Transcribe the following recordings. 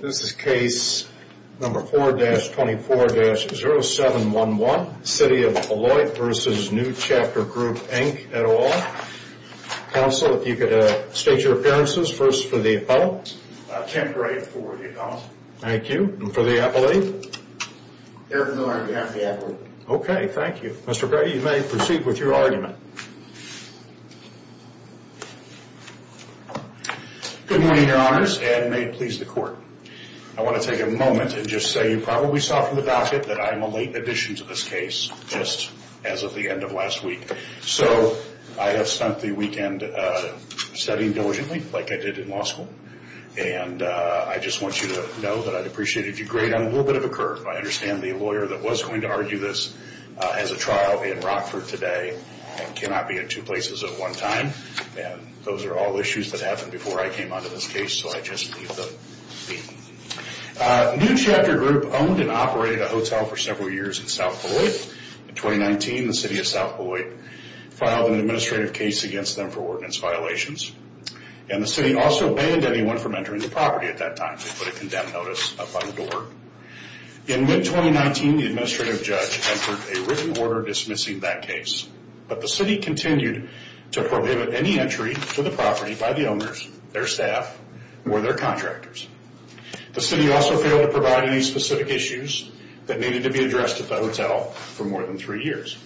This is case number 4-24-0711, City of Beloit v. New Chapter Group, Inc. et al. Counsel, if you could state your appearances, first for the appellant. Temporary for the appellant. Thank you. And for the appellate? There is no argument on behalf of the appellant. Okay, thank you. Mr. Brady, you may proceed with your argument. Good morning, Your Honors, and may it please the Court. I want to take a moment and just say you probably saw from the docket that I am a late addition to this case, just as of the end of last week. So I have spent the weekend studying diligently, like I did in law school, and I just want you to know that I'd appreciate it if you'd grade on a little bit of a curve. I understand the lawyer that was going to argue this as a trial in Rockford today cannot be in two places at one time, and those are all issues that happened before I came onto this case, so I just leave them be. New Chapter Group owned and operated a hotel for several years in South Beloit. In 2019, the City of South Beloit filed an administrative case against them for ordinance violations, and the City also banned anyone from entering the property at that time. They put a condemn notice up on the door. In mid-2019, the administrative judge entered a written order dismissing that case, but the City continued to prohibit any entry to the property by the owners, their staff, or their contractors. The City also failed to provide any specific issues that needed to be addressed at the hotel for more than three years.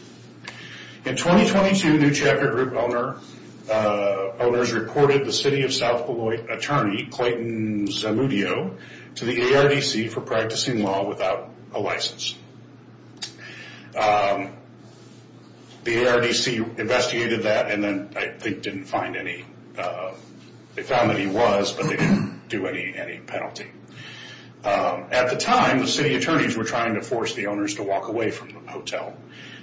In 2022, New Chapter Group owners reported the City of South Beloit attorney, Clayton Zamudio, to the ARDC for practicing law without a license. The ARDC investigated that, and then I think they found that he was, but they didn't do any penalty. At the time, the City attorneys were trying to force the owners to walk away from the hotel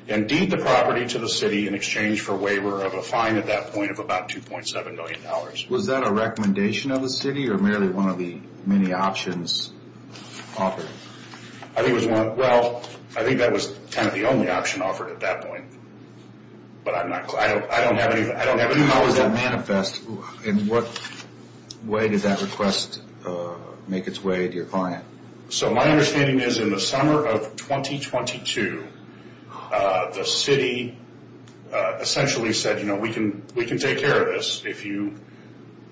and deed the property to the City in exchange for a waiver of a fine at that point of about $2.7 million. Was that a recommendation of the City, or merely one of the many options offered? I think that was kind of the only option offered at that point, but I don't have any more. How does that manifest? In what way did that request make its way to your client? So my understanding is in the summer of 2022, the City essentially said, you know, we can take care of this if you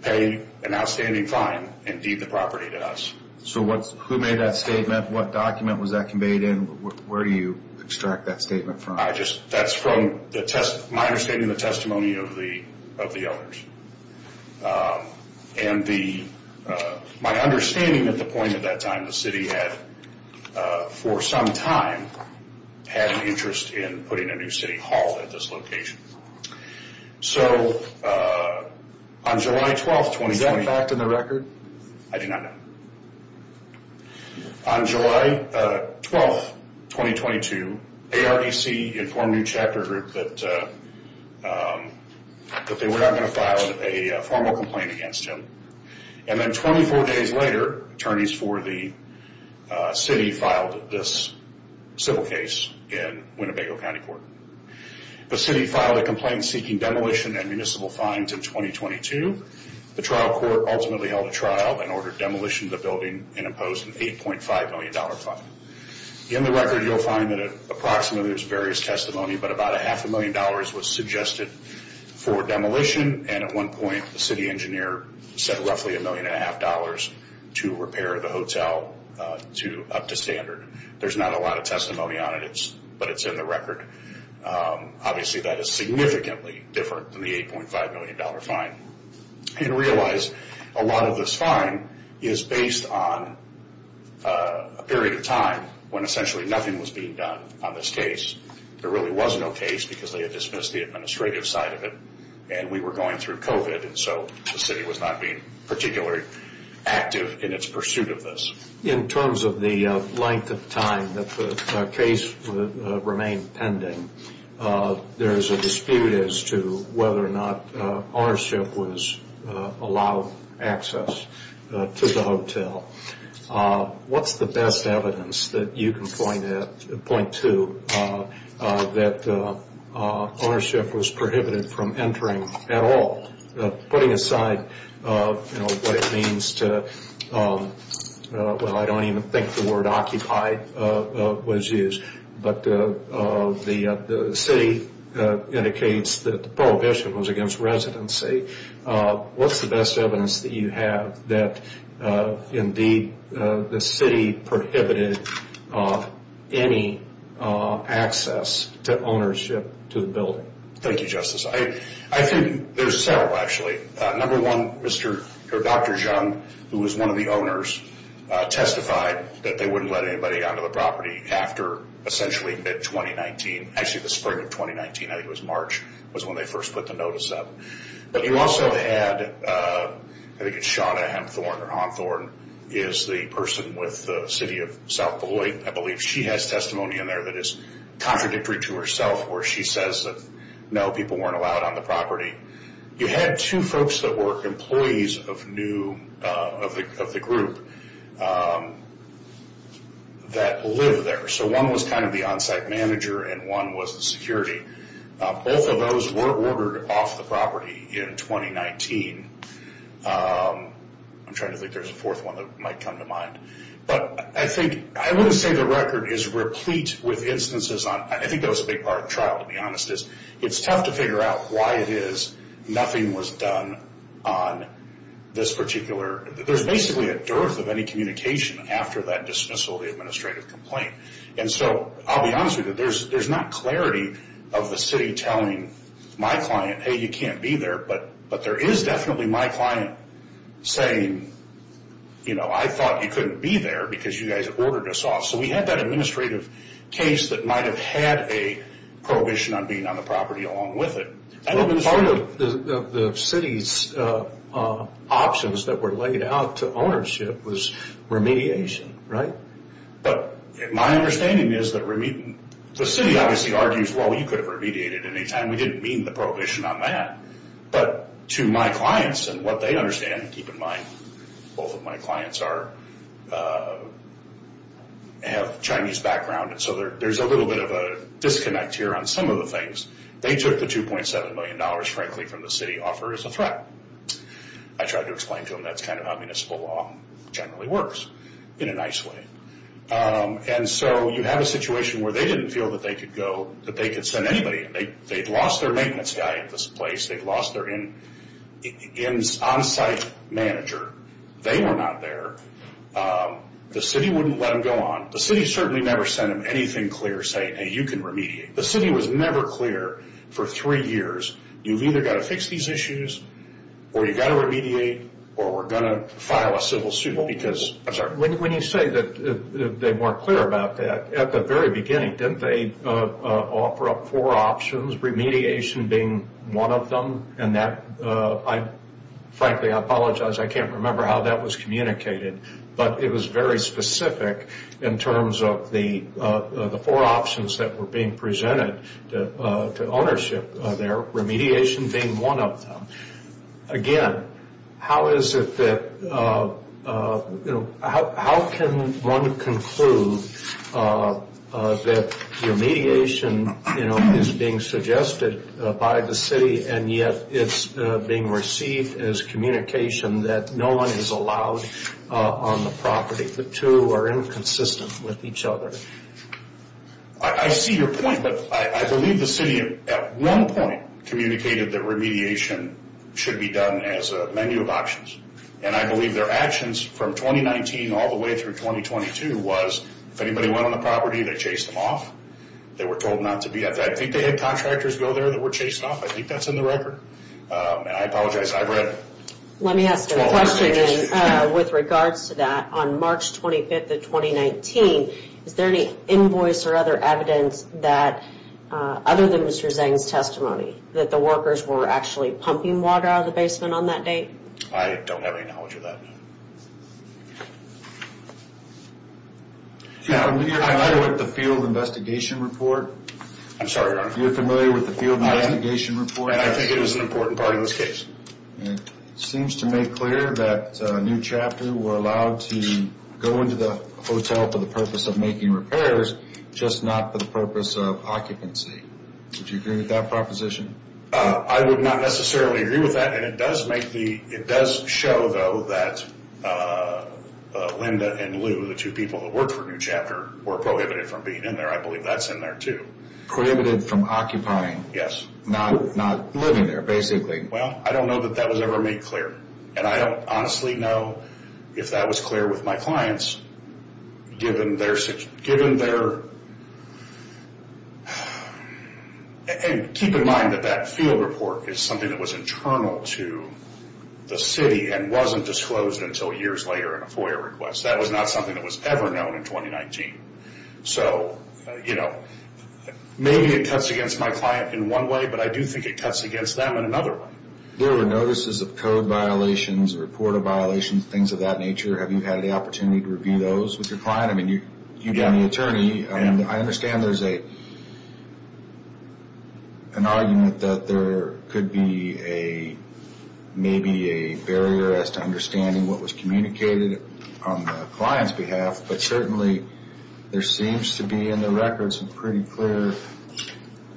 pay an outstanding fine and deed the property to us. So who made that statement? What document was that conveyed in? Where do you extract that statement from? That's from my understanding of the testimony of the owners. My understanding at the point at that time, the City had, for some time, had an interest in putting a new City Hall at this location. So, on July 12th, 2020... Is that a fact in the record? I do not know. On July 12th, 2022, ARDC informed New Chapter Group that they were not going to file a formal complaint against him, and then 24 days later, attorneys for the City filed this civil case in Winnebago County Court. The City filed a complaint seeking demolition and municipal fines in 2022. The trial court ultimately held a trial and ordered demolition of the building and imposed an $8.5 million fine. In the record, you'll find that approximately there's various testimony, but about a half a million dollars was suggested for demolition, and at one point, the City engineer said roughly a million and a half dollars to repair the hotel up to standard. There's not a lot of testimony on it, but it's in the record. Obviously, that is significantly different than the $8.5 million fine, and realize a lot of this fine is based on a period of time when essentially nothing was being done on this case. There really was no case because they had dismissed the administrative side of it, and we were going through COVID, and so the City was not being particularly active in its pursuit of this. In terms of the length of time that the case remained pending, there's a dispute as to whether or not ownership was allowed access to the hotel. What's the best evidence that you can point to that ownership was prohibited from entering the building at all, putting aside what it means to... I don't even think the word occupied was used, but the City indicates that the prohibition was against residency. What's the best evidence that you have that indeed the City prohibited any access to ownership to the building? Thank you, Justice. I think there's several, actually. Number one, Dr. Jung, who was one of the owners, testified that they wouldn't let anybody onto the property after essentially mid-2019, actually the spring of 2019, I think it was March, was when they first put the notice up. You also had... I think it's Shawna Hamthorne, or Honthorne, is the person with the City of South Beloit. I believe she has testimony in there that is contradictory to herself, where she says that no, people weren't allowed on the property. You had two folks that were employees of the group that live there. One was the on-site manager, and one was the security. Both of those were ordered off the property in 2019. I'm trying to think there's a fourth one that might come to mind. I wouldn't say the record is replete with instances on... I think that was a big part of the trial, to be honest. It's tough to figure out why it is nothing was done on this particular... There's basically a dearth of any communication after that dismissal, the administrative complaint. I'll be honest with you, there's not clarity of the city telling my client, hey, you can't be there, but there is definitely my client saying, I thought you couldn't be there because you guys ordered us off. We had that administrative case that might have had a prohibition on being on the property along with it. I think part of the city's options that were laid out to ownership was remediation, right? My understanding is that the city obviously argues, well, you could have remediated any time. We didn't mean the prohibition on that. To my clients and what they understand, keep in mind, both of my clients have Chinese background. There's a little bit of a disconnect here on some of the things. They took the $2.7 million, frankly, from the city offer as a threat. I tried to explain to them that's how municipal law generally works in a nice way. You have a situation where they didn't feel that they could send anybody. They'd lost their maintenance guy at this place. They'd lost their onsite manager. They were not there. The city wouldn't let them go on. The city certainly never sent them anything clear saying, hey, you can remediate. The city was never clear for three years, you've either got to fix these issues or you've got to remediate or we're going to file a civil suit because... I'm sorry. When you say that they weren't clear about that, at the very beginning, didn't they offer up four options, remediation being one of them? Frankly, I apologize. I can't remember how that was communicated, but it was very specific in terms of the four options that were being presented to ownership there, remediation being one of them. Again, how can one conclude that remediation is being suggested by the city and yet it's being received as communication that no one is allowed on the property? The two are inconsistent with each other. I see your point, but I believe the city at one point communicated that remediation should be done as a menu of options. I believe their actions from 2019 all the way through 2022 was if anybody went on the property, they chased them off. They were told not to be... I think they had contractors go there that were chased off. I think that's in the record. I apologize. I've read... Let me ask a question with regards to that. On March 25th of 2019, is there any invoice or other evidence other than Mr. Zeng's testimony that the workers were actually pumping water out of the basement on that date? I don't have any knowledge of that. You're familiar with the field investigation report? I'm sorry, Your Honor. You're familiar with the field investigation report? I think it was an important part of this case. It seems to make clear that New Chapter were allowed to go into the hotel for the purpose of making repairs, just not for the purpose of occupancy. Would you agree with that proposition? I would not necessarily agree with that. It does show, though, that Linda and Lou, the two people who worked for New Chapter, were prohibited from being in there. I believe that's in there, too. Prohibited from occupying? Yes. Not living there, basically? Well, I don't know that that was ever made clear. I don't honestly know if that was clear with my clients, given their... Keep in mind that that field report is something that was internal to the city, and wasn't disclosed until years later in a FOIA request. That was not something that was ever known in 2019. Maybe it cuts against my client in one way, but I do think it cuts against them in another way. There were notices of code violations, report of violations, things of that nature. Have you had the opportunity to review those with your client? You've been the attorney, and I understand there's an argument that there could be maybe a barrier as to understanding what was communicated on the client's behalf, but certainly there seems to be in the records some pretty clear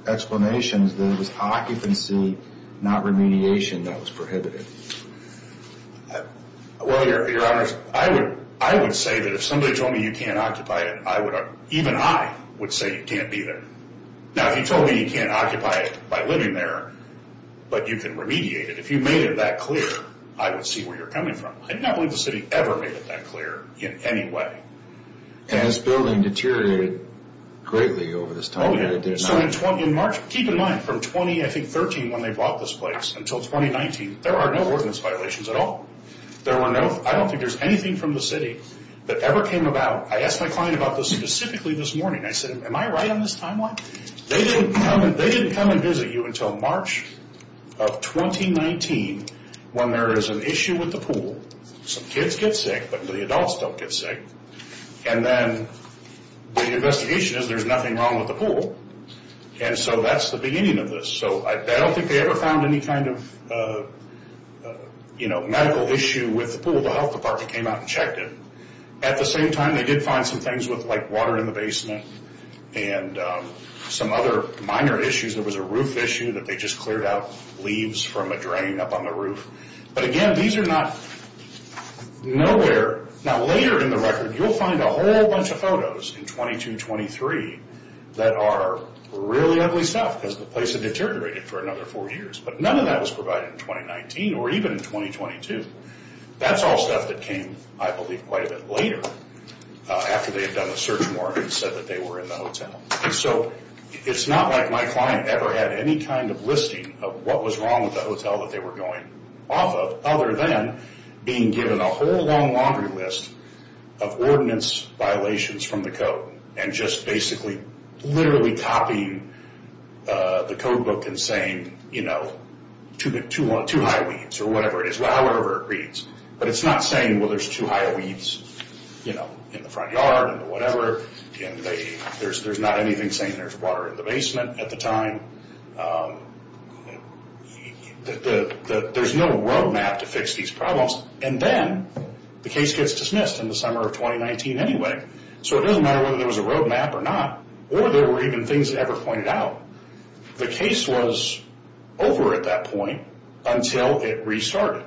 explanations that it was occupancy, not remediation, that was prohibited. Well, your honors, I would say that if somebody told me you can't occupy it, even I would say you can't be there. Now, if you told me you can't occupy it by living there, but you can remediate it, if you made it that clear, I would see where you're coming from. I do not believe the city ever made it that clear in any way. And this building deteriorated greatly over this time. Oh, yeah. So in March, keep in mind, from 2013 when they bought this place until 2019, there are no ordinance violations at all. I don't think there's anything from the city that ever came about. I asked my client about this specifically this morning. I said, am I right on this timeline? They didn't come and visit you until March of 2019 when there is an issue with the pool. Some kids get sick, but the adults don't get sick. And then the investigation is there's nothing wrong with the pool. And so that's the beginning of this. So I don't think they ever found any kind of medical issue with the pool. The health department came out and checked it. At the same time, they did find some things with like water in the basement and some other minor issues. There was a roof issue that they just cleared out leaves from a drain up on the roof. But again, these are not nowhere. Now, later in the record, you'll find a whole bunch of photos in 22-23 that are really ugly stuff because the place had deteriorated for another four years. But none of that was provided in 2019 or even in 2022. That's all stuff that came, I believe, quite a bit later after they had done a search warrant and said that they were in the hotel. So it's not like my client ever had any kind of listing of what was wrong with the hotel that they were going off of other than being given a whole long laundry list of ordinance violations from the code and just basically literally copying the codebook and saying, you know, two high weeds or whatever it is, whatever it reads. But it's not saying, well, there's two high weeds in the front yard or whatever. There's not anything saying there's water in the basement at the time. There's no road map to fix these problems. And then the case gets dismissed in the summer of 2019 anyway. So it doesn't matter whether there was a road map or not or there were even things that ever pointed out. The case was over at that point until it restarted.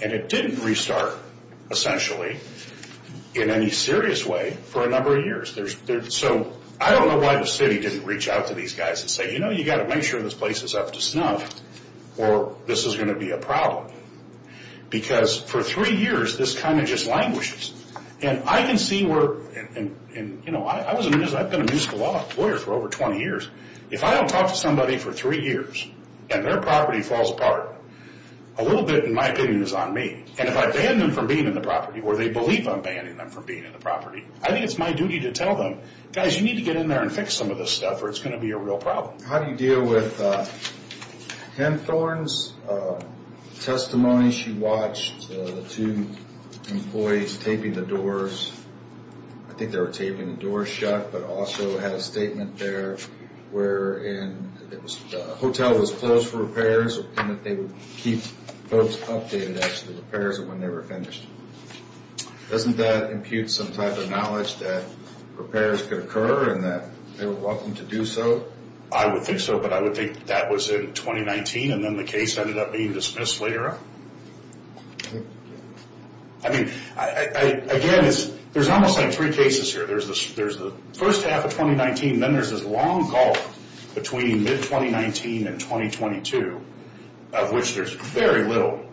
And it didn't restart, essentially, in any serious way for a number of years. So I don't know why the city didn't reach out to these guys and say, you know, you've got to make sure this place is up to snuff or this is going to be a problem. Because for three years, this kind of just languishes. And I can see where, you know, I've been a musical law lawyer for over 20 years. If I don't talk to somebody for three years and their property falls apart, a little bit, in my opinion, is on me. And if I ban them from being in the property, or they believe I'm banning them from being in the property, I think it's my duty to tell them, guys, you need to get in there and fix some of this stuff or it's going to be a real problem. How do you deal with Ken Thorne's testimony? She watched the two employees taping the doors. I think they were taping the doors shut, but also had a statement there wherein the hotel was closed for repairs and that they would keep folks updated as to the repairs and when they were finished. Doesn't that impute some type of knowledge that repairs could occur and that they were welcome to do so? I would think so, but I would think that was in 2019 and then the case ended up being dismissed later. I mean, again, there's almost like three cases here. There's the first half of 2019, then there's this long gulf between mid-2019 and 2022, of which there's very little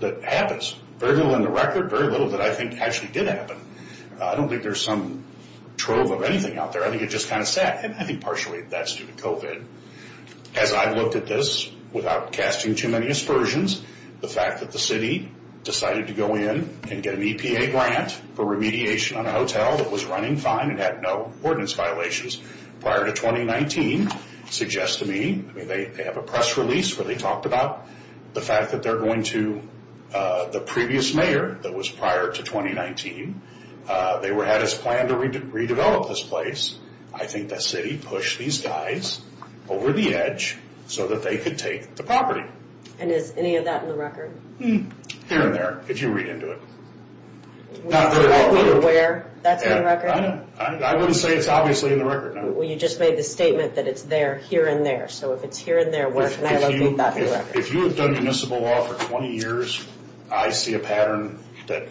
that happens. Very little in the record, very little that I think actually did happen. I don't think there's some trove of anything out there. I think it just kind of sat. I think partially that's due to COVID. As I've looked at this, without casting too many aspersions, the fact that the city decided to go in and get an EPA grant for remediation on a hotel that was running fine and had no ordinance violations prior to 2019 suggests to me, I mean, they have a press release where they talked about the fact that they're going to the previous mayor that was prior to 2019. They had us plan to redevelop this place. I think the city pushed these guys over the edge so that they could take the property. And is any of that in the record? Here and there, if you read into it. Not very well aware that's in the record? I wouldn't say it's obviously in the record, no. Well, you just made the statement that it's there, here and there. So if it's here and there, where can I locate that in the record? If you have done municipal law for 20 years, I see a pattern that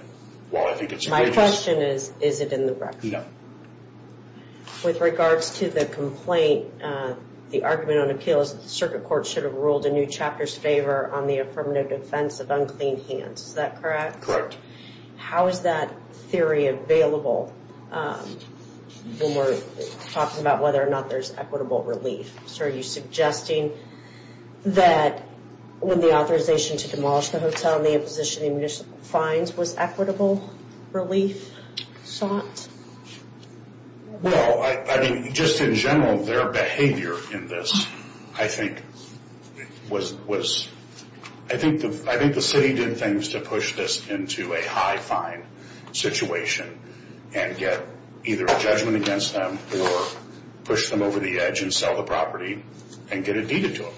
while I think it's courageous. My question is, is it in the record? No. With regards to the complaint, the argument on appeals, the circuit court should have ruled a new chapter's favor on the affirmative defense of unclean hands. Is that correct? How is that theory available when we're talking about whether or not there's equitable relief? So are you suggesting that when the authorization to demolish the hotel, the imposition of municipal fines was equitable relief sought? Well, I mean, just in general, their behavior in this, I think, was I think the city did things to push this into a high fine situation and get either a judgment against them or push them over the edge and sell the property and get it deeded to them.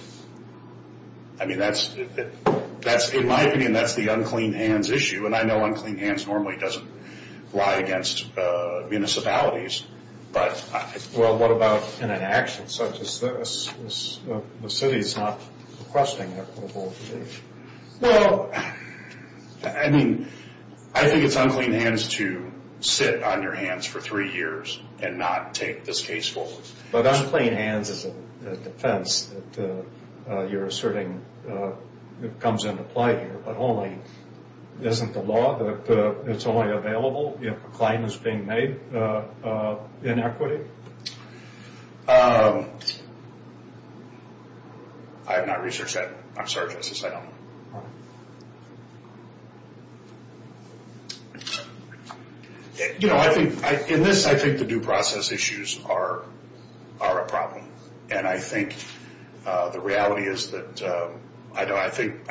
I mean, that's, in my opinion, that's the unclean hands issue. And I know unclean hands normally doesn't lie against municipalities, but I Well, what about in an action such as this? The city's not requesting equitable relief. Well, I mean, I think it's unclean hands to sit on your hands for three years and not take this case forward. But unclean hands is a defense that you're asserting comes into play here, but only, isn't the law that it's only available if a claim is being made in equity? I have not researched that. I'm sorry, Justice, I don't know. You know, I think, in this, I think the due process issues are a problem. And I think the reality is that I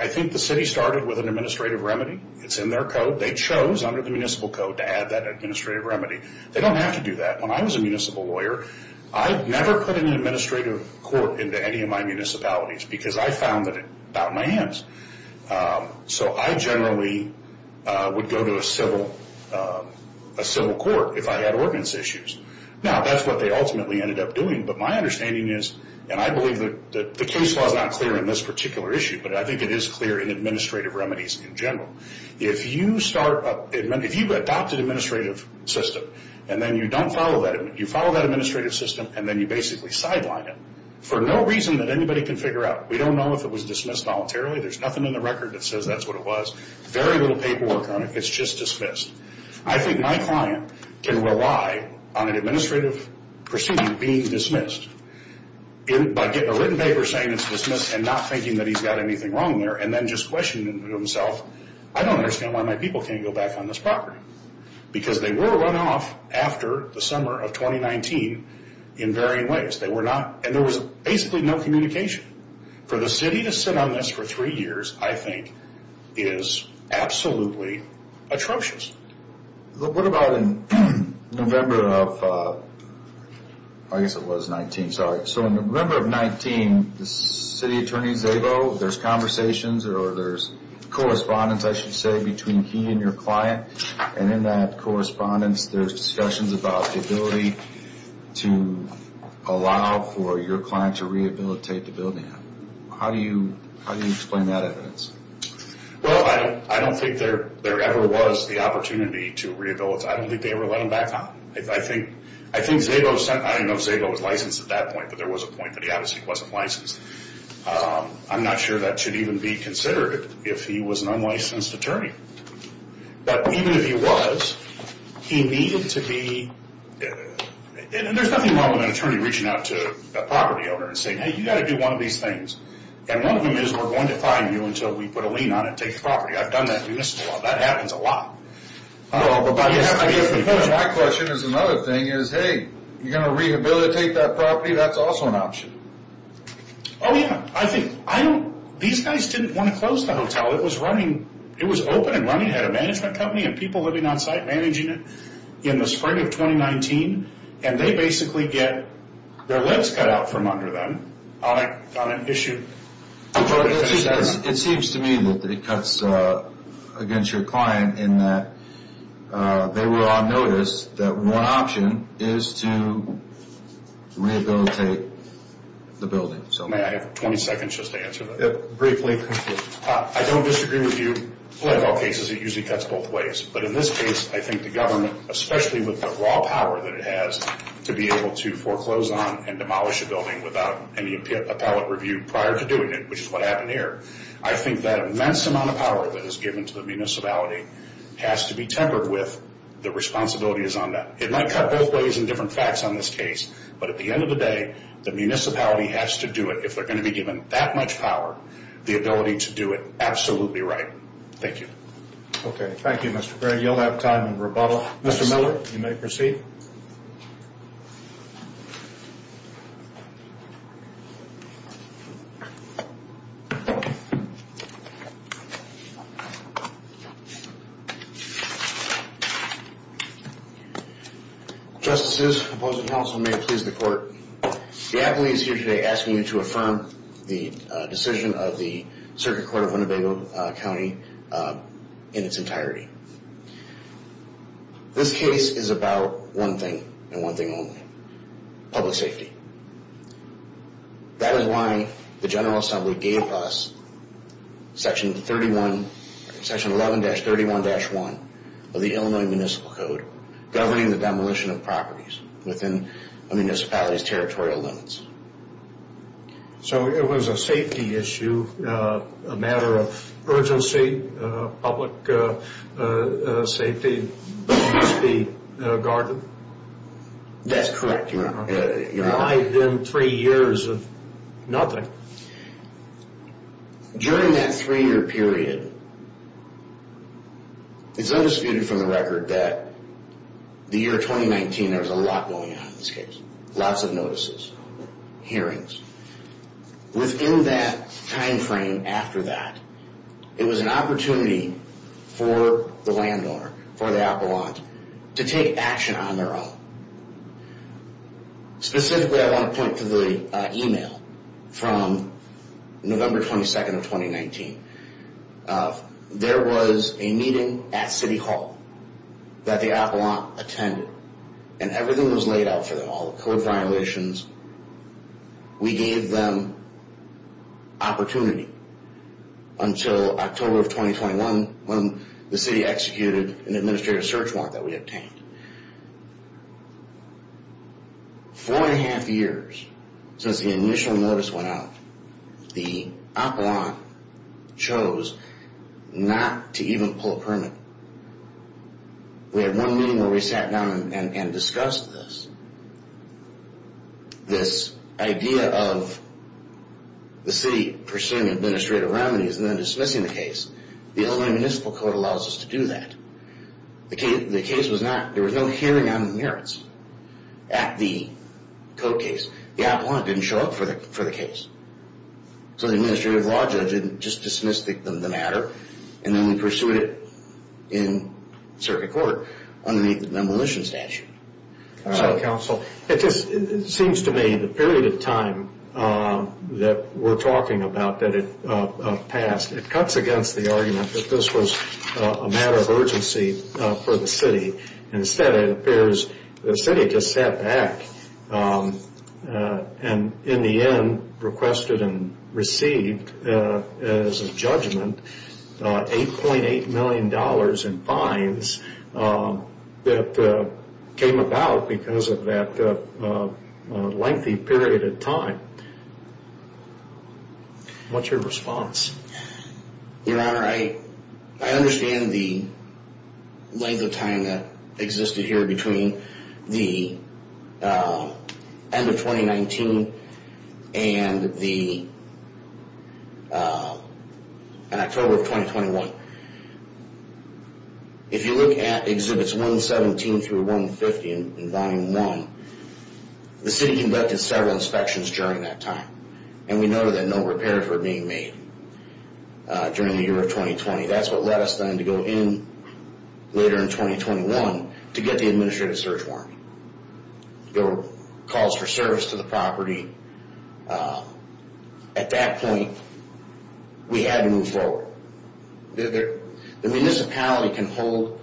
think the city started with an administrative remedy. It's in their code. They chose under the municipal code to add that administrative remedy. They don't have to do that. When I was a municipal lawyer, I never put an administrative court into any of my municipalities because I found that it got in my hands. So I generally would go to a civil court if I had ordinance issues. Now, that's what they ultimately ended up doing. But my understanding is, and I believe that the case law is not clear in this particular issue, but I think it is clear in administrative remedies in general. If you adopt an administrative system and then you don't follow that, you follow that administrative system and then you basically sideline it, for no reason that anybody can figure out. We don't know if it was dismissed voluntarily. There's nothing in the record that says that's what it was. Very little paperwork on it. It's just dismissed. I think my client can rely on an administrative procedure being dismissed by getting a written paper saying it's dismissed and not thinking that he's got anything wrong there and then just questioning himself, I don't understand why my people can't go back on this property. Because they were run off after the summer of 2019 in varying ways. And there was basically no communication. For the city to sit on this for three years, I think, is absolutely atrocious. What about in November of, I guess it was 19, sorry. So in November of 19, the city attorney, Zabo, there's conversations or there's correspondence, I should say, between he and your client. And in that correspondence, there's discussions about the ability to allow for your client to rehabilitate the building. How do you explain that evidence? Well, I don't think there ever was the opportunity to rehabilitate. I don't think they ever let him back on. I think Zabo, I don't know if Zabo was licensed at that point, but there was a point that he obviously wasn't licensed. I'm not sure that should even be considered if he was an unlicensed attorney. But even if he was, he needed to be, and there's nothing wrong with an attorney reaching out to a property owner and saying, hey, you've got to do one of these things. And one of them is we're going to fine you until we put a lien on it and take the property. I've done that and you missed the law. That happens a lot. Well, but my question is another thing is, hey, you're going to rehabilitate that property? That's also an option. Oh, yeah. I think, I don't, these guys didn't want to close the hotel. It was running, it was open and running. It had a management company and people living on site managing it in the spring of 2019. And they basically get their lips cut out from under them on an issue. It seems to me that it cuts against your client in that they were on notice that one option is to rehabilitate the building. May I have 20 seconds just to answer that? Briefly. I don't disagree with you. Like all cases, it usually cuts both ways. But in this case, I think the government, especially with the raw power that it has to be able to foreclose on and demolish a building without any appellate review prior to doing it, which is what happened here. I think that immense amount of power that is given to the municipality has to be tempered with. The responsibility is on them. It might cut both ways and different facts on this case. But at the end of the day, the municipality has to do it. If they're going to be given that much power, the ability to do it, absolutely right. Thank you. Okay. Thank you, Mr. Gray. You'll have time for rebuttal. Mr. Miller, you may proceed. Justices, opposing counsel, may it please the Court. The appellee is here today asking you to affirm the decision of the Circuit Court of Winnebago County in its entirety. This case is about one thing and one thing only, public safety. That is why the General Assembly gave us Section 11-31-1 of the Illinois Municipal Code governing the demolition of properties within a municipality's territorial limits. So it was a safety issue, a matter of urgency, public safety must be guarded? That's correct, Your Honor. I've been three years of nothing. During that three-year period, it's undisputed from the record that the year 2019, there was a lot going on in this case. Lots of notices, hearings. Within that timeframe after that, it was an opportunity for the landowner, for the appellant, to take action on their own. Specifically, I want to point to the email from November 22nd of 2019. There was a meeting at City Hall that the appellant attended. And everything was laid out for them, all the code violations. We gave them opportunity until October of 2021 when the city executed an administrative search warrant that we obtained. Four and a half years since the initial notice went out, the appellant chose not to even pull a permit. We had one meeting where we sat down and discussed this. This idea of the city pursuing administrative remedies and then dismissing the case. The Illinois Municipal Code allows us to do that. The case was not, there was no hearing on the merits at the code case. The appellant didn't show up for the case. So the administrative law judge didn't just dismiss the matter and then we pursued it in circuit court under the demolition statute. Counsel, it just seems to me the period of time that we're talking about that it passed, it cuts against the argument that this was a matter of urgency for the city. Instead, it appears the city just sat back and in the end requested and received as a judgment $8.8 million in fines that came about because of that lengthy period of time. What's your response? Your Honor, I understand the length of time that existed here between the end of 2019 and October of 2021. If you look at Exhibits 117 through 150 in Volume 1, the city conducted several inspections during that time. And we noted that no repairs were being made during the year of 2020. That's what led us then to go in later in 2021 to get the administrative search warrant. There were calls for service to the property. At that point, we had to move forward. The municipality can hold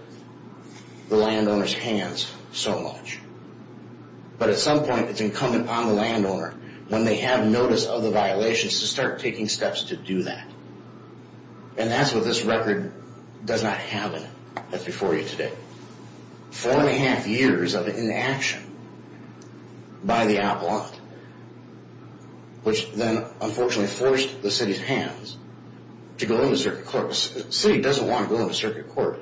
the landowner's hands so much. But at some point, it's incumbent upon the landowner, when they have notice of the violations, to start taking steps to do that. And that's what this record does not have in it. That's before you today. Four and a half years of inaction by the appellant, which then unfortunately forced the city's hands to go into circuit court. The city doesn't want to go into circuit court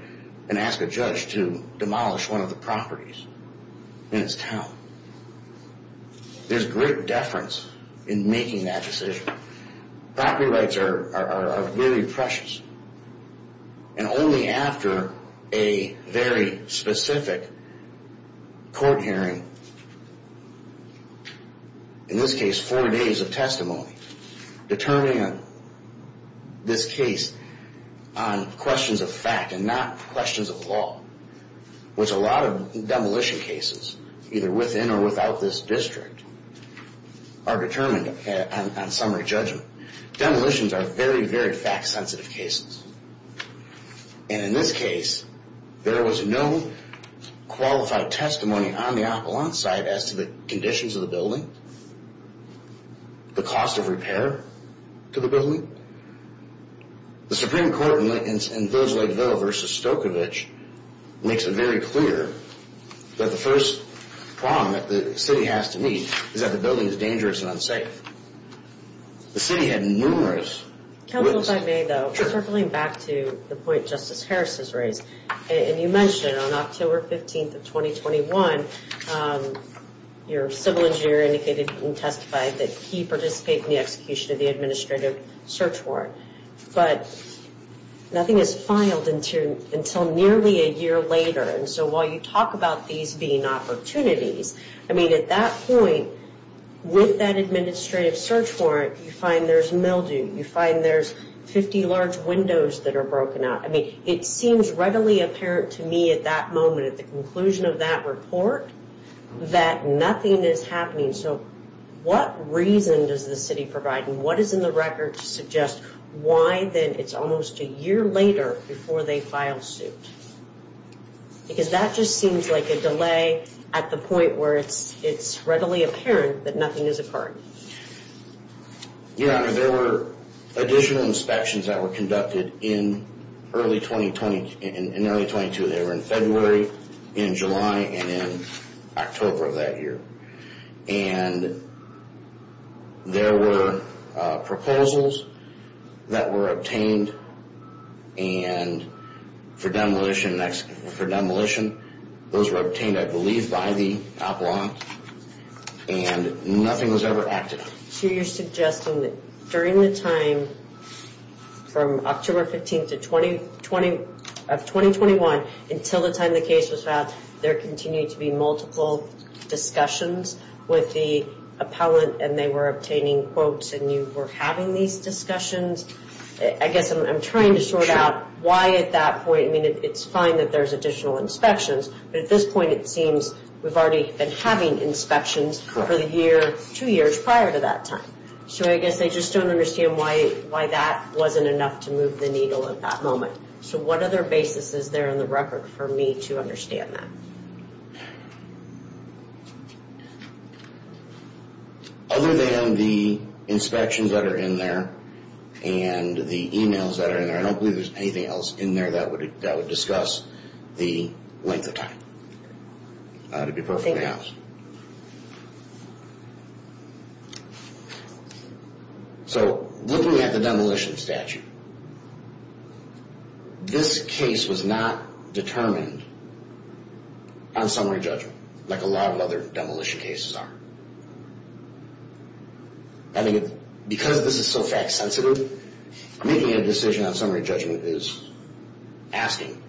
and ask a judge to demolish one of the properties. In its town. There's great deference in making that decision. Property rights are very precious. And only after a very specific court hearing, in this case four days of testimony, determining this case on questions of fact and not questions of law, which a lot of demolition cases, either within or without this district, are determined on summary judgment. Demolitions are very, very fact-sensitive cases. And in this case, there was no qualified testimony on the appellant's side as to the conditions of the building. The cost of repair to the building. The Supreme Court in Village Lakeville v. Stokovich makes it very clear that the first problem that the city has to meet is that the building is dangerous and unsafe. The city had numerous... Counsel, if I may, though, circling back to the point Justice Harris has raised, and you mentioned on October 15th of 2021, your civil engineer indicated and testified that he participated in the execution of the administrative search warrant. But nothing is filed until nearly a year later. And so while you talk about these being opportunities, I mean, at that point, with that administrative search warrant, you find there's mildew, you find there's 50 large windows that are broken out. I mean, it seems readily apparent to me at that moment, at the conclusion of that report, that nothing is happening. So what reason does the city provide? And what is in the record to suggest why then it's almost a year later before they file suit? Because that just seems like a delay at the point where it's readily apparent that nothing has occurred. Your Honor, there were additional inspections that were conducted in early 2020 and early 2022. They were in February, in July, and in October of that year. And there were proposals that were obtained for demolition. Those were obtained, I believe, by the OPLON. And nothing was ever acted on. So you're suggesting that during the time from October 15th of 2021 until the time the case was filed, there continued to be multiple discussions with the appellant, and they were obtaining quotes, and you were having these discussions? I guess I'm trying to sort out why at that point. I mean, it's fine that there's additional inspections. But at this point, it seems we've already been having inspections for the year, two years prior to that time. So I guess I just don't understand why that wasn't enough to move the needle at that moment. So what other basis is there in the record for me to understand that? Other than the inspections that are in there and the emails that are in there, I don't believe there's anything else in there that would discuss the length of time, to be perfectly honest. So looking at the demolition statute, this case was not determined on summary judgment, like a lot of other demolition cases are. I mean, because this is so fact-sensitive, making a decision on summary judgment is asking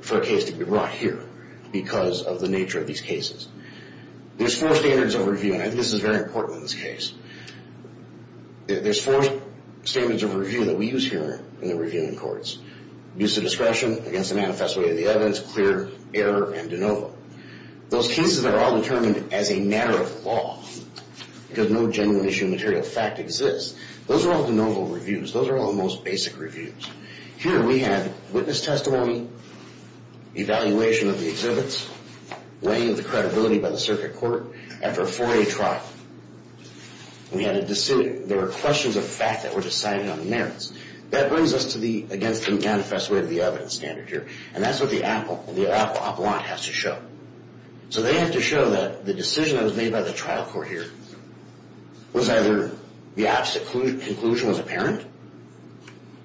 for a case to be brought here, because of the nature of these cases. There's four standards of review, and I think this is very important in this case. There's four standards of review that we use here in the reviewing courts. Use of discretion against the manifest way of the evidence, clear error, and de novo. Those cases are all determined as a matter of law, because no genuine issue of material fact exists. Those are all de novo reviews. Those are all the most basic reviews. Here we have witness testimony, evaluation of the exhibits, weighing of the credibility by the circuit court. After a 4A trial, we had a decision. There were questions of fact that were decided on the merits. That brings us against the manifest way of the evidence standard here, and that's what the appellant has to show. So they have to show that the decision that was made by the trial court here was either the absolute conclusion was apparent,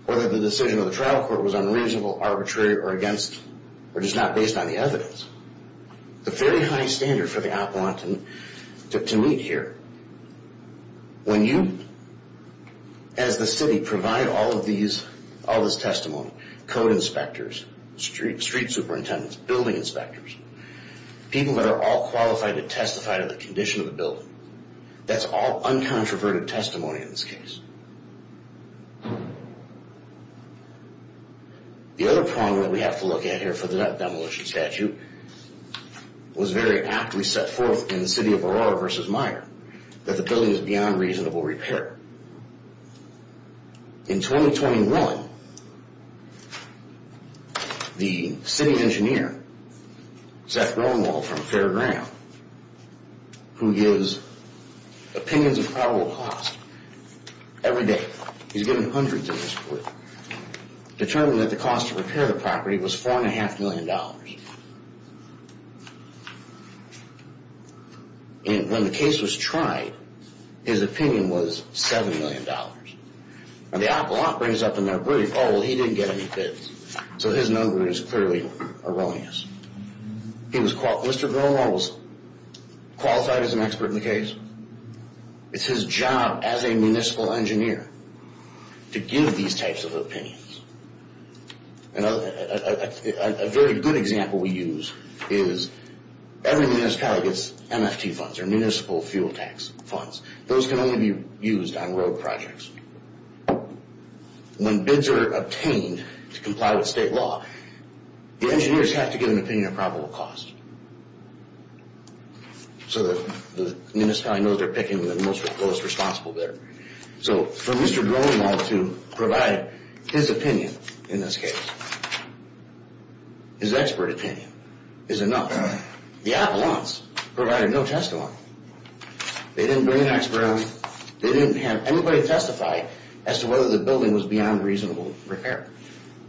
or that the decision of the trial court was unreasonable, arbitrary, or against, or just not based on the evidence. The very high standard for the appellant to meet here, when you, as the city, provide all this testimony, code inspectors, street superintendents, building inspectors, people that are all qualified to testify to the condition of the building, that's all uncontroverted testimony in this case. The other problem that we have to look at here for the demolition statute, was very aptly set forth in the city of Aurora versus Meijer, that the building is beyond reasonable repair. In 2021, the city engineer, Seth Braunwald from Fairground, who gives opinions of probable cost every day, he's given hundreds in this court, determined that the cost to repair the property was $4.5 million. And when the case was tried, his opinion was $7 million. And the appellant brings up in their brief, oh, well, he didn't get any bids. So his number is clearly erroneous. Mr. Braunwald was qualified as an expert in the case. It's his job as a municipal engineer to give these types of opinions. A very good example we use is every municipality gets MFT funds, or municipal fuel tax funds. Those can only be used on road projects. When bids are obtained to comply with state law, the engineers have to give an opinion of probable cost. So the municipality knows they're picking the most responsible bidder. So for Mr. Braunwald to provide his opinion in this case, his expert opinion, is enough. The appellants provided no testimony. They didn't bring an expert. They didn't have anybody testify as to whether the building was beyond reasonable repair,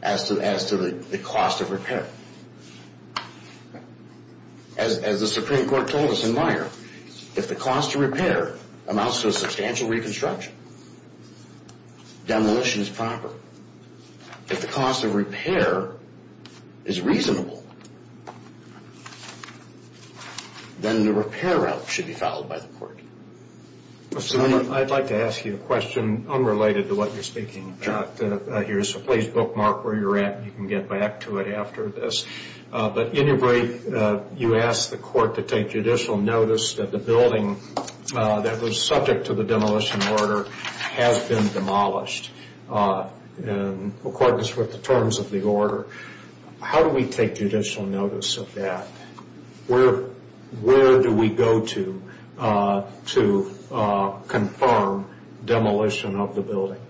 as to the cost of repair. As the Supreme Court told us in Meyer, if the cost of repair amounts to a substantial reconstruction, demolition is proper. If the cost of repair is reasonable, then the repair route should be followed by the court. I'd like to ask you a question unrelated to what you're speaking about here. So please bookmark where you're at. You can get back to it after this. But in your break, you asked the court to take judicial notice that the building that was subject to the demolition order has been demolished in accordance with the terms of the order. How do we take judicial notice of that? Where do we go to to confirm demolition of the building?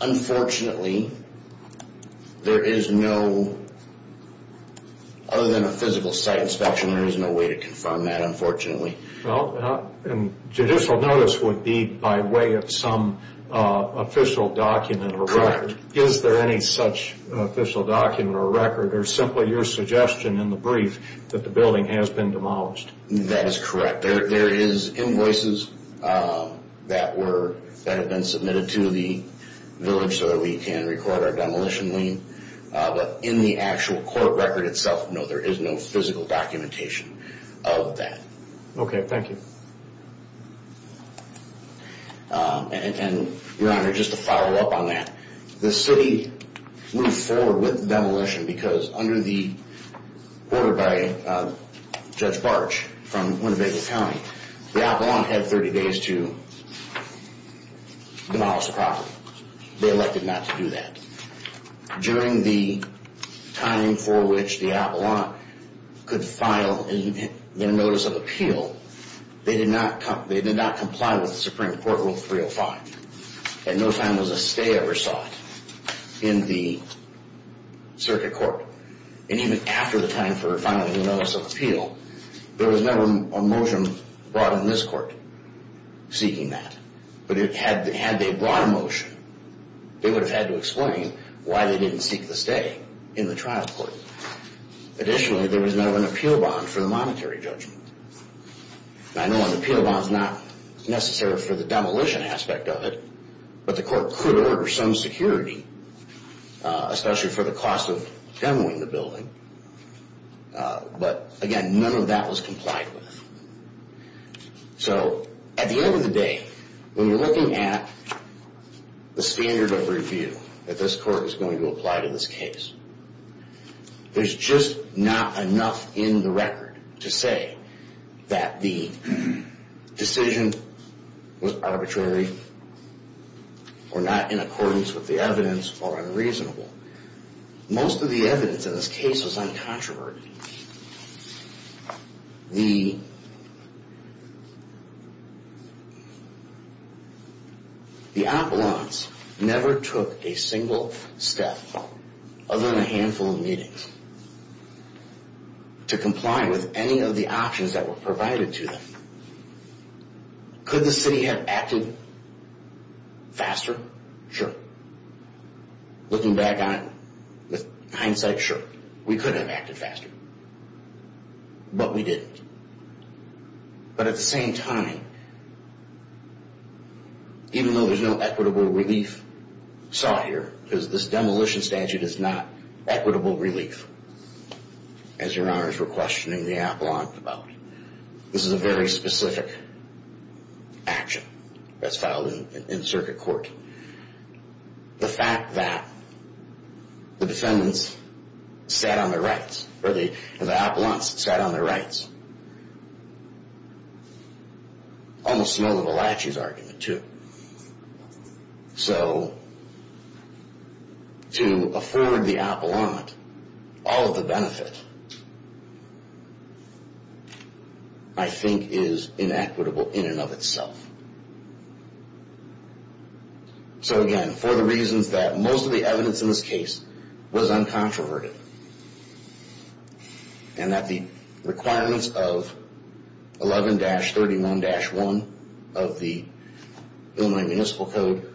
Unfortunately, there is no... other than a physical site inspection, there is no way to confirm that, unfortunately. Well, judicial notice would be by way of some official document or record. Correct. Is there any such official document or record or simply your suggestion in the brief that the building has been demolished? That is correct. There is invoices that have been submitted to the village so that we can record our demolition lien. But in the actual court record itself, no, there is no physical documentation of that. Okay, thank you. Your Honor, just to follow up on that, the city moved forward with demolition because under the order by Judge Barch from Winnebago County, the Avalon had 30 days to demolish the property. They elected not to do that. During the time for which the Avalon could file their notice of appeal, they did not comply with Supreme Court Rule 305. And no time was a stay ever sought in the circuit court. And even after the time for filing the notice of appeal, there was never a motion brought in this court seeking that. But had they brought a motion, they would have had to explain why they didn't seek the stay in the trial court. Additionally, there was never an appeal bond for the monetary judgment. I know an appeal bond is not necessary for the demolition aspect of it, but the court could order some security, especially for the cost of demolishing the building. But again, none of that was complied with. So at the end of the day, when you're looking at the standard of review that this court is going to apply to this case, there's just not enough in the record to say that the decision was arbitrary or not in accordance with the evidence or unreasonable. Most of the evidence in this case was uncontroverted. The Avalon's never took a single step other than a handful of meetings to comply with any of the options that were provided to them. Could the city have acted faster? Sure. Looking back on it with hindsight, sure. We could have acted faster. But we didn't. But at the same time, even though there's no equitable relief sought here because this demolition statute is not equitable relief, as Your Honors were questioning the Avalon about, this is a very specific action that's filed in circuit court. The fact that the defendants sat on their rights, or the Avalon's sat on their rights, almost smelled of a lachey's argument, too. So to afford the Avalon all of the benefit, I think is inequitable in and of itself. So again, for the reasons that most of the evidence in this case was uncontroverted, and that the requirements of 11-31-1 of the Illinois Municipal Code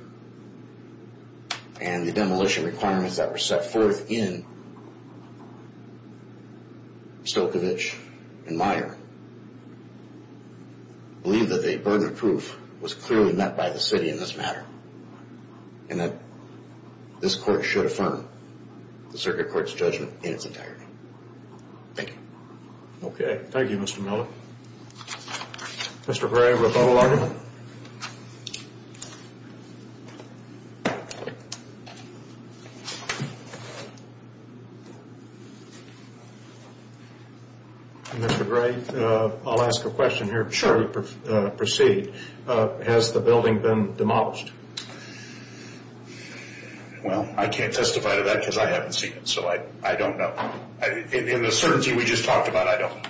and the demolition requirements that were set forth in Stokovich and Meyer believe that the burden of proof was clearly met by the city in this matter, and that this court should affirm. The circuit court's judgment in its entirety. Thank you. Okay. Thank you, Mr. Miller. Mr. Gray with the whole argument. Mr. Gray, I'll ask a question here. Sure. Proceed. Has the building been demolished? Well, I can't testify to that because I haven't seen it. So I don't know. In the certainty we just talked about, I don't.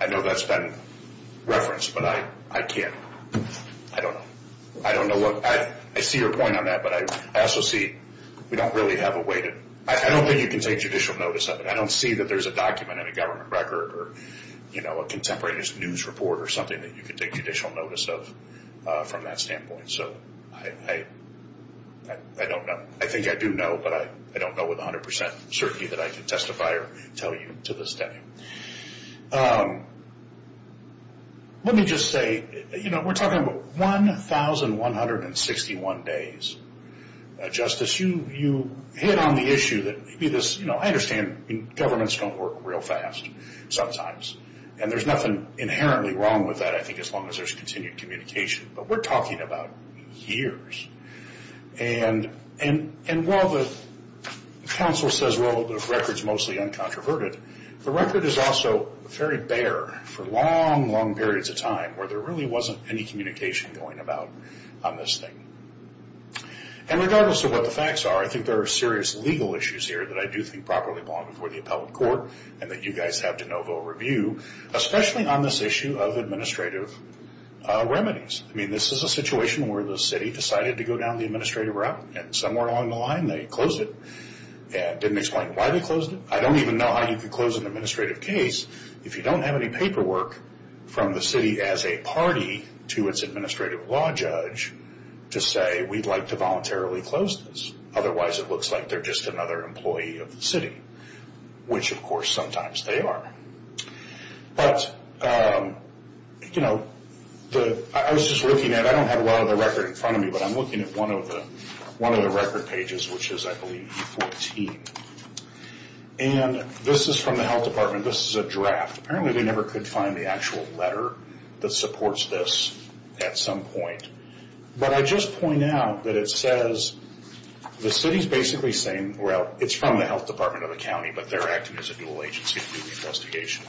I know that's been referenced, but I can't. I don't know. I don't know what – I see your point on that, but I also see we don't really have a way to – I don't think you can take judicial notice of it. I don't see that there's a document in a government record or a contemporary news report or something that you can take judicial notice of from that standpoint. So I don't know. I think I do know, but I don't know with 100 percent certainty that I can testify or tell you to this day. Let me just say, you know, we're talking about 1,161 days. Justice, you hit on the issue that maybe this – you know, I understand governments don't work real fast sometimes, and there's nothing inherently wrong with that, I think, as long as there's continued communication. But we're talking about years. And while the counsel says, well, the record's mostly uncontroverted, the record is also very bare for long, long periods of time where there really wasn't any communication going about on this thing. And regardless of what the facts are, I think there are serious legal issues here that I do think properly belong before the appellate court and that you guys have to know full review, especially on this issue of administrative remedies. I mean, this is a situation where the city decided to go down the administrative route, and somewhere along the line they closed it and didn't explain why they closed it. I don't even know how you could close an administrative case if you don't have any paperwork from the city as a party to its administrative law judge to say we'd like to voluntarily close this. Otherwise it looks like they're just another employee of the city, which, of course, sometimes they are. But, you know, I was just looking at it. I don't have a lot of the record in front of me, but I'm looking at one of the record pages, which is, I believe, E14. And this is from the health department. This is a draft. Apparently they never could find the actual letter that supports this at some point. But I just point out that it says the city's basically saying, well, it's from the health department of the county, but they're acting as a dual agency to do the investigation.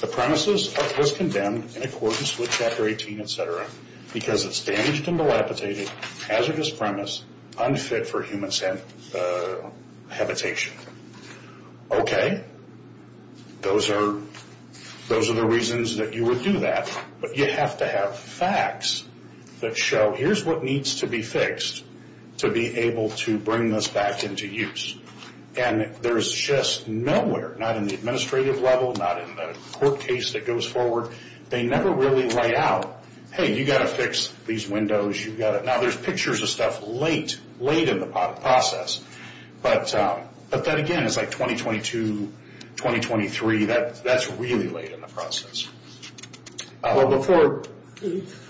The premises was condemned in accordance with Chapter 18, et cetera, because it's damaged and dilapidated, hazardous premise, unfit for human habitation. Okay. Those are the reasons that you would do that, but you have to have facts that show here's what needs to be fixed to be able to bring this back into use. And there's just nowhere, not in the administrative level, not in the court case that goes forward, they never really write out, hey, you've got to fix these windows. Now, there's pictures of stuff late, late in the process. But that, again, is like 2022, 2023. That's really late in the process. Before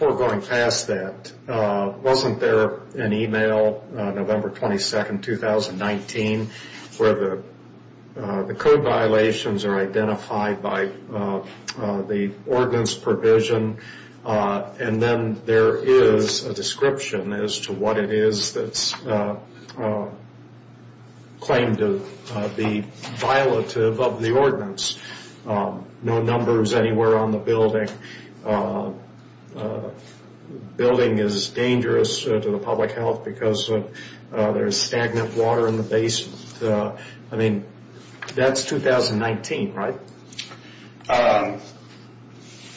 going past that, wasn't there an email November 22, 2019, where the code violations are identified by the ordinance provision? And then there is a description as to what it is that's claimed to be violative of the ordinance. No numbers anywhere on the building. Building is dangerous to the public health because there is stagnant water in the basement. I mean, that's 2019, right?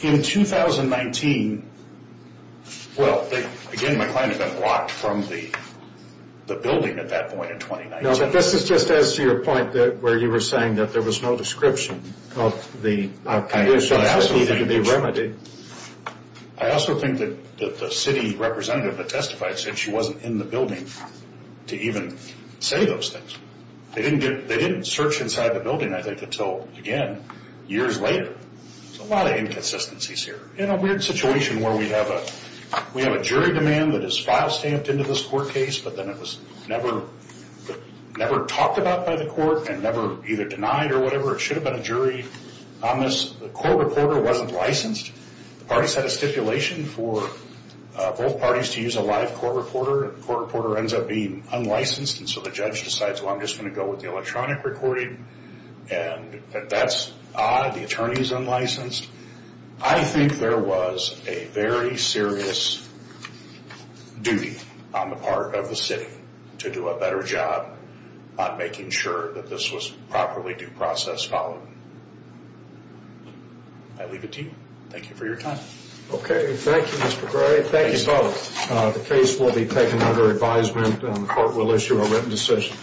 In 2019, well, again, my client had been blocked from the building at that point in 2019. This is just as to your point where you were saying that there was no description of the conditions that needed to be remedied. I also think that the city representative that testified said she wasn't in the building to even say those things. They didn't search inside the building, I think, until, again, years later. There's a lot of inconsistencies here. In a weird situation where we have a jury demand that is file stamped into this court case, but then it was never talked about by the court and never either denied or whatever. It should have been a jury on this. The court reporter wasn't licensed. The parties had a stipulation for both parties to use a live court reporter. The court reporter ends up being unlicensed, and so the judge decides, well, I'm just going to go with the electronic recording, and that's odd. The attorney is unlicensed. I think there was a very serious duty on the part of the city to do a better job on making sure that this was properly due process followed. I leave it to you. Thank you for your time. Okay. Thank you, Mr. Gray. Thank you both. The case will be taken under advisement, and the court will issue a written decision.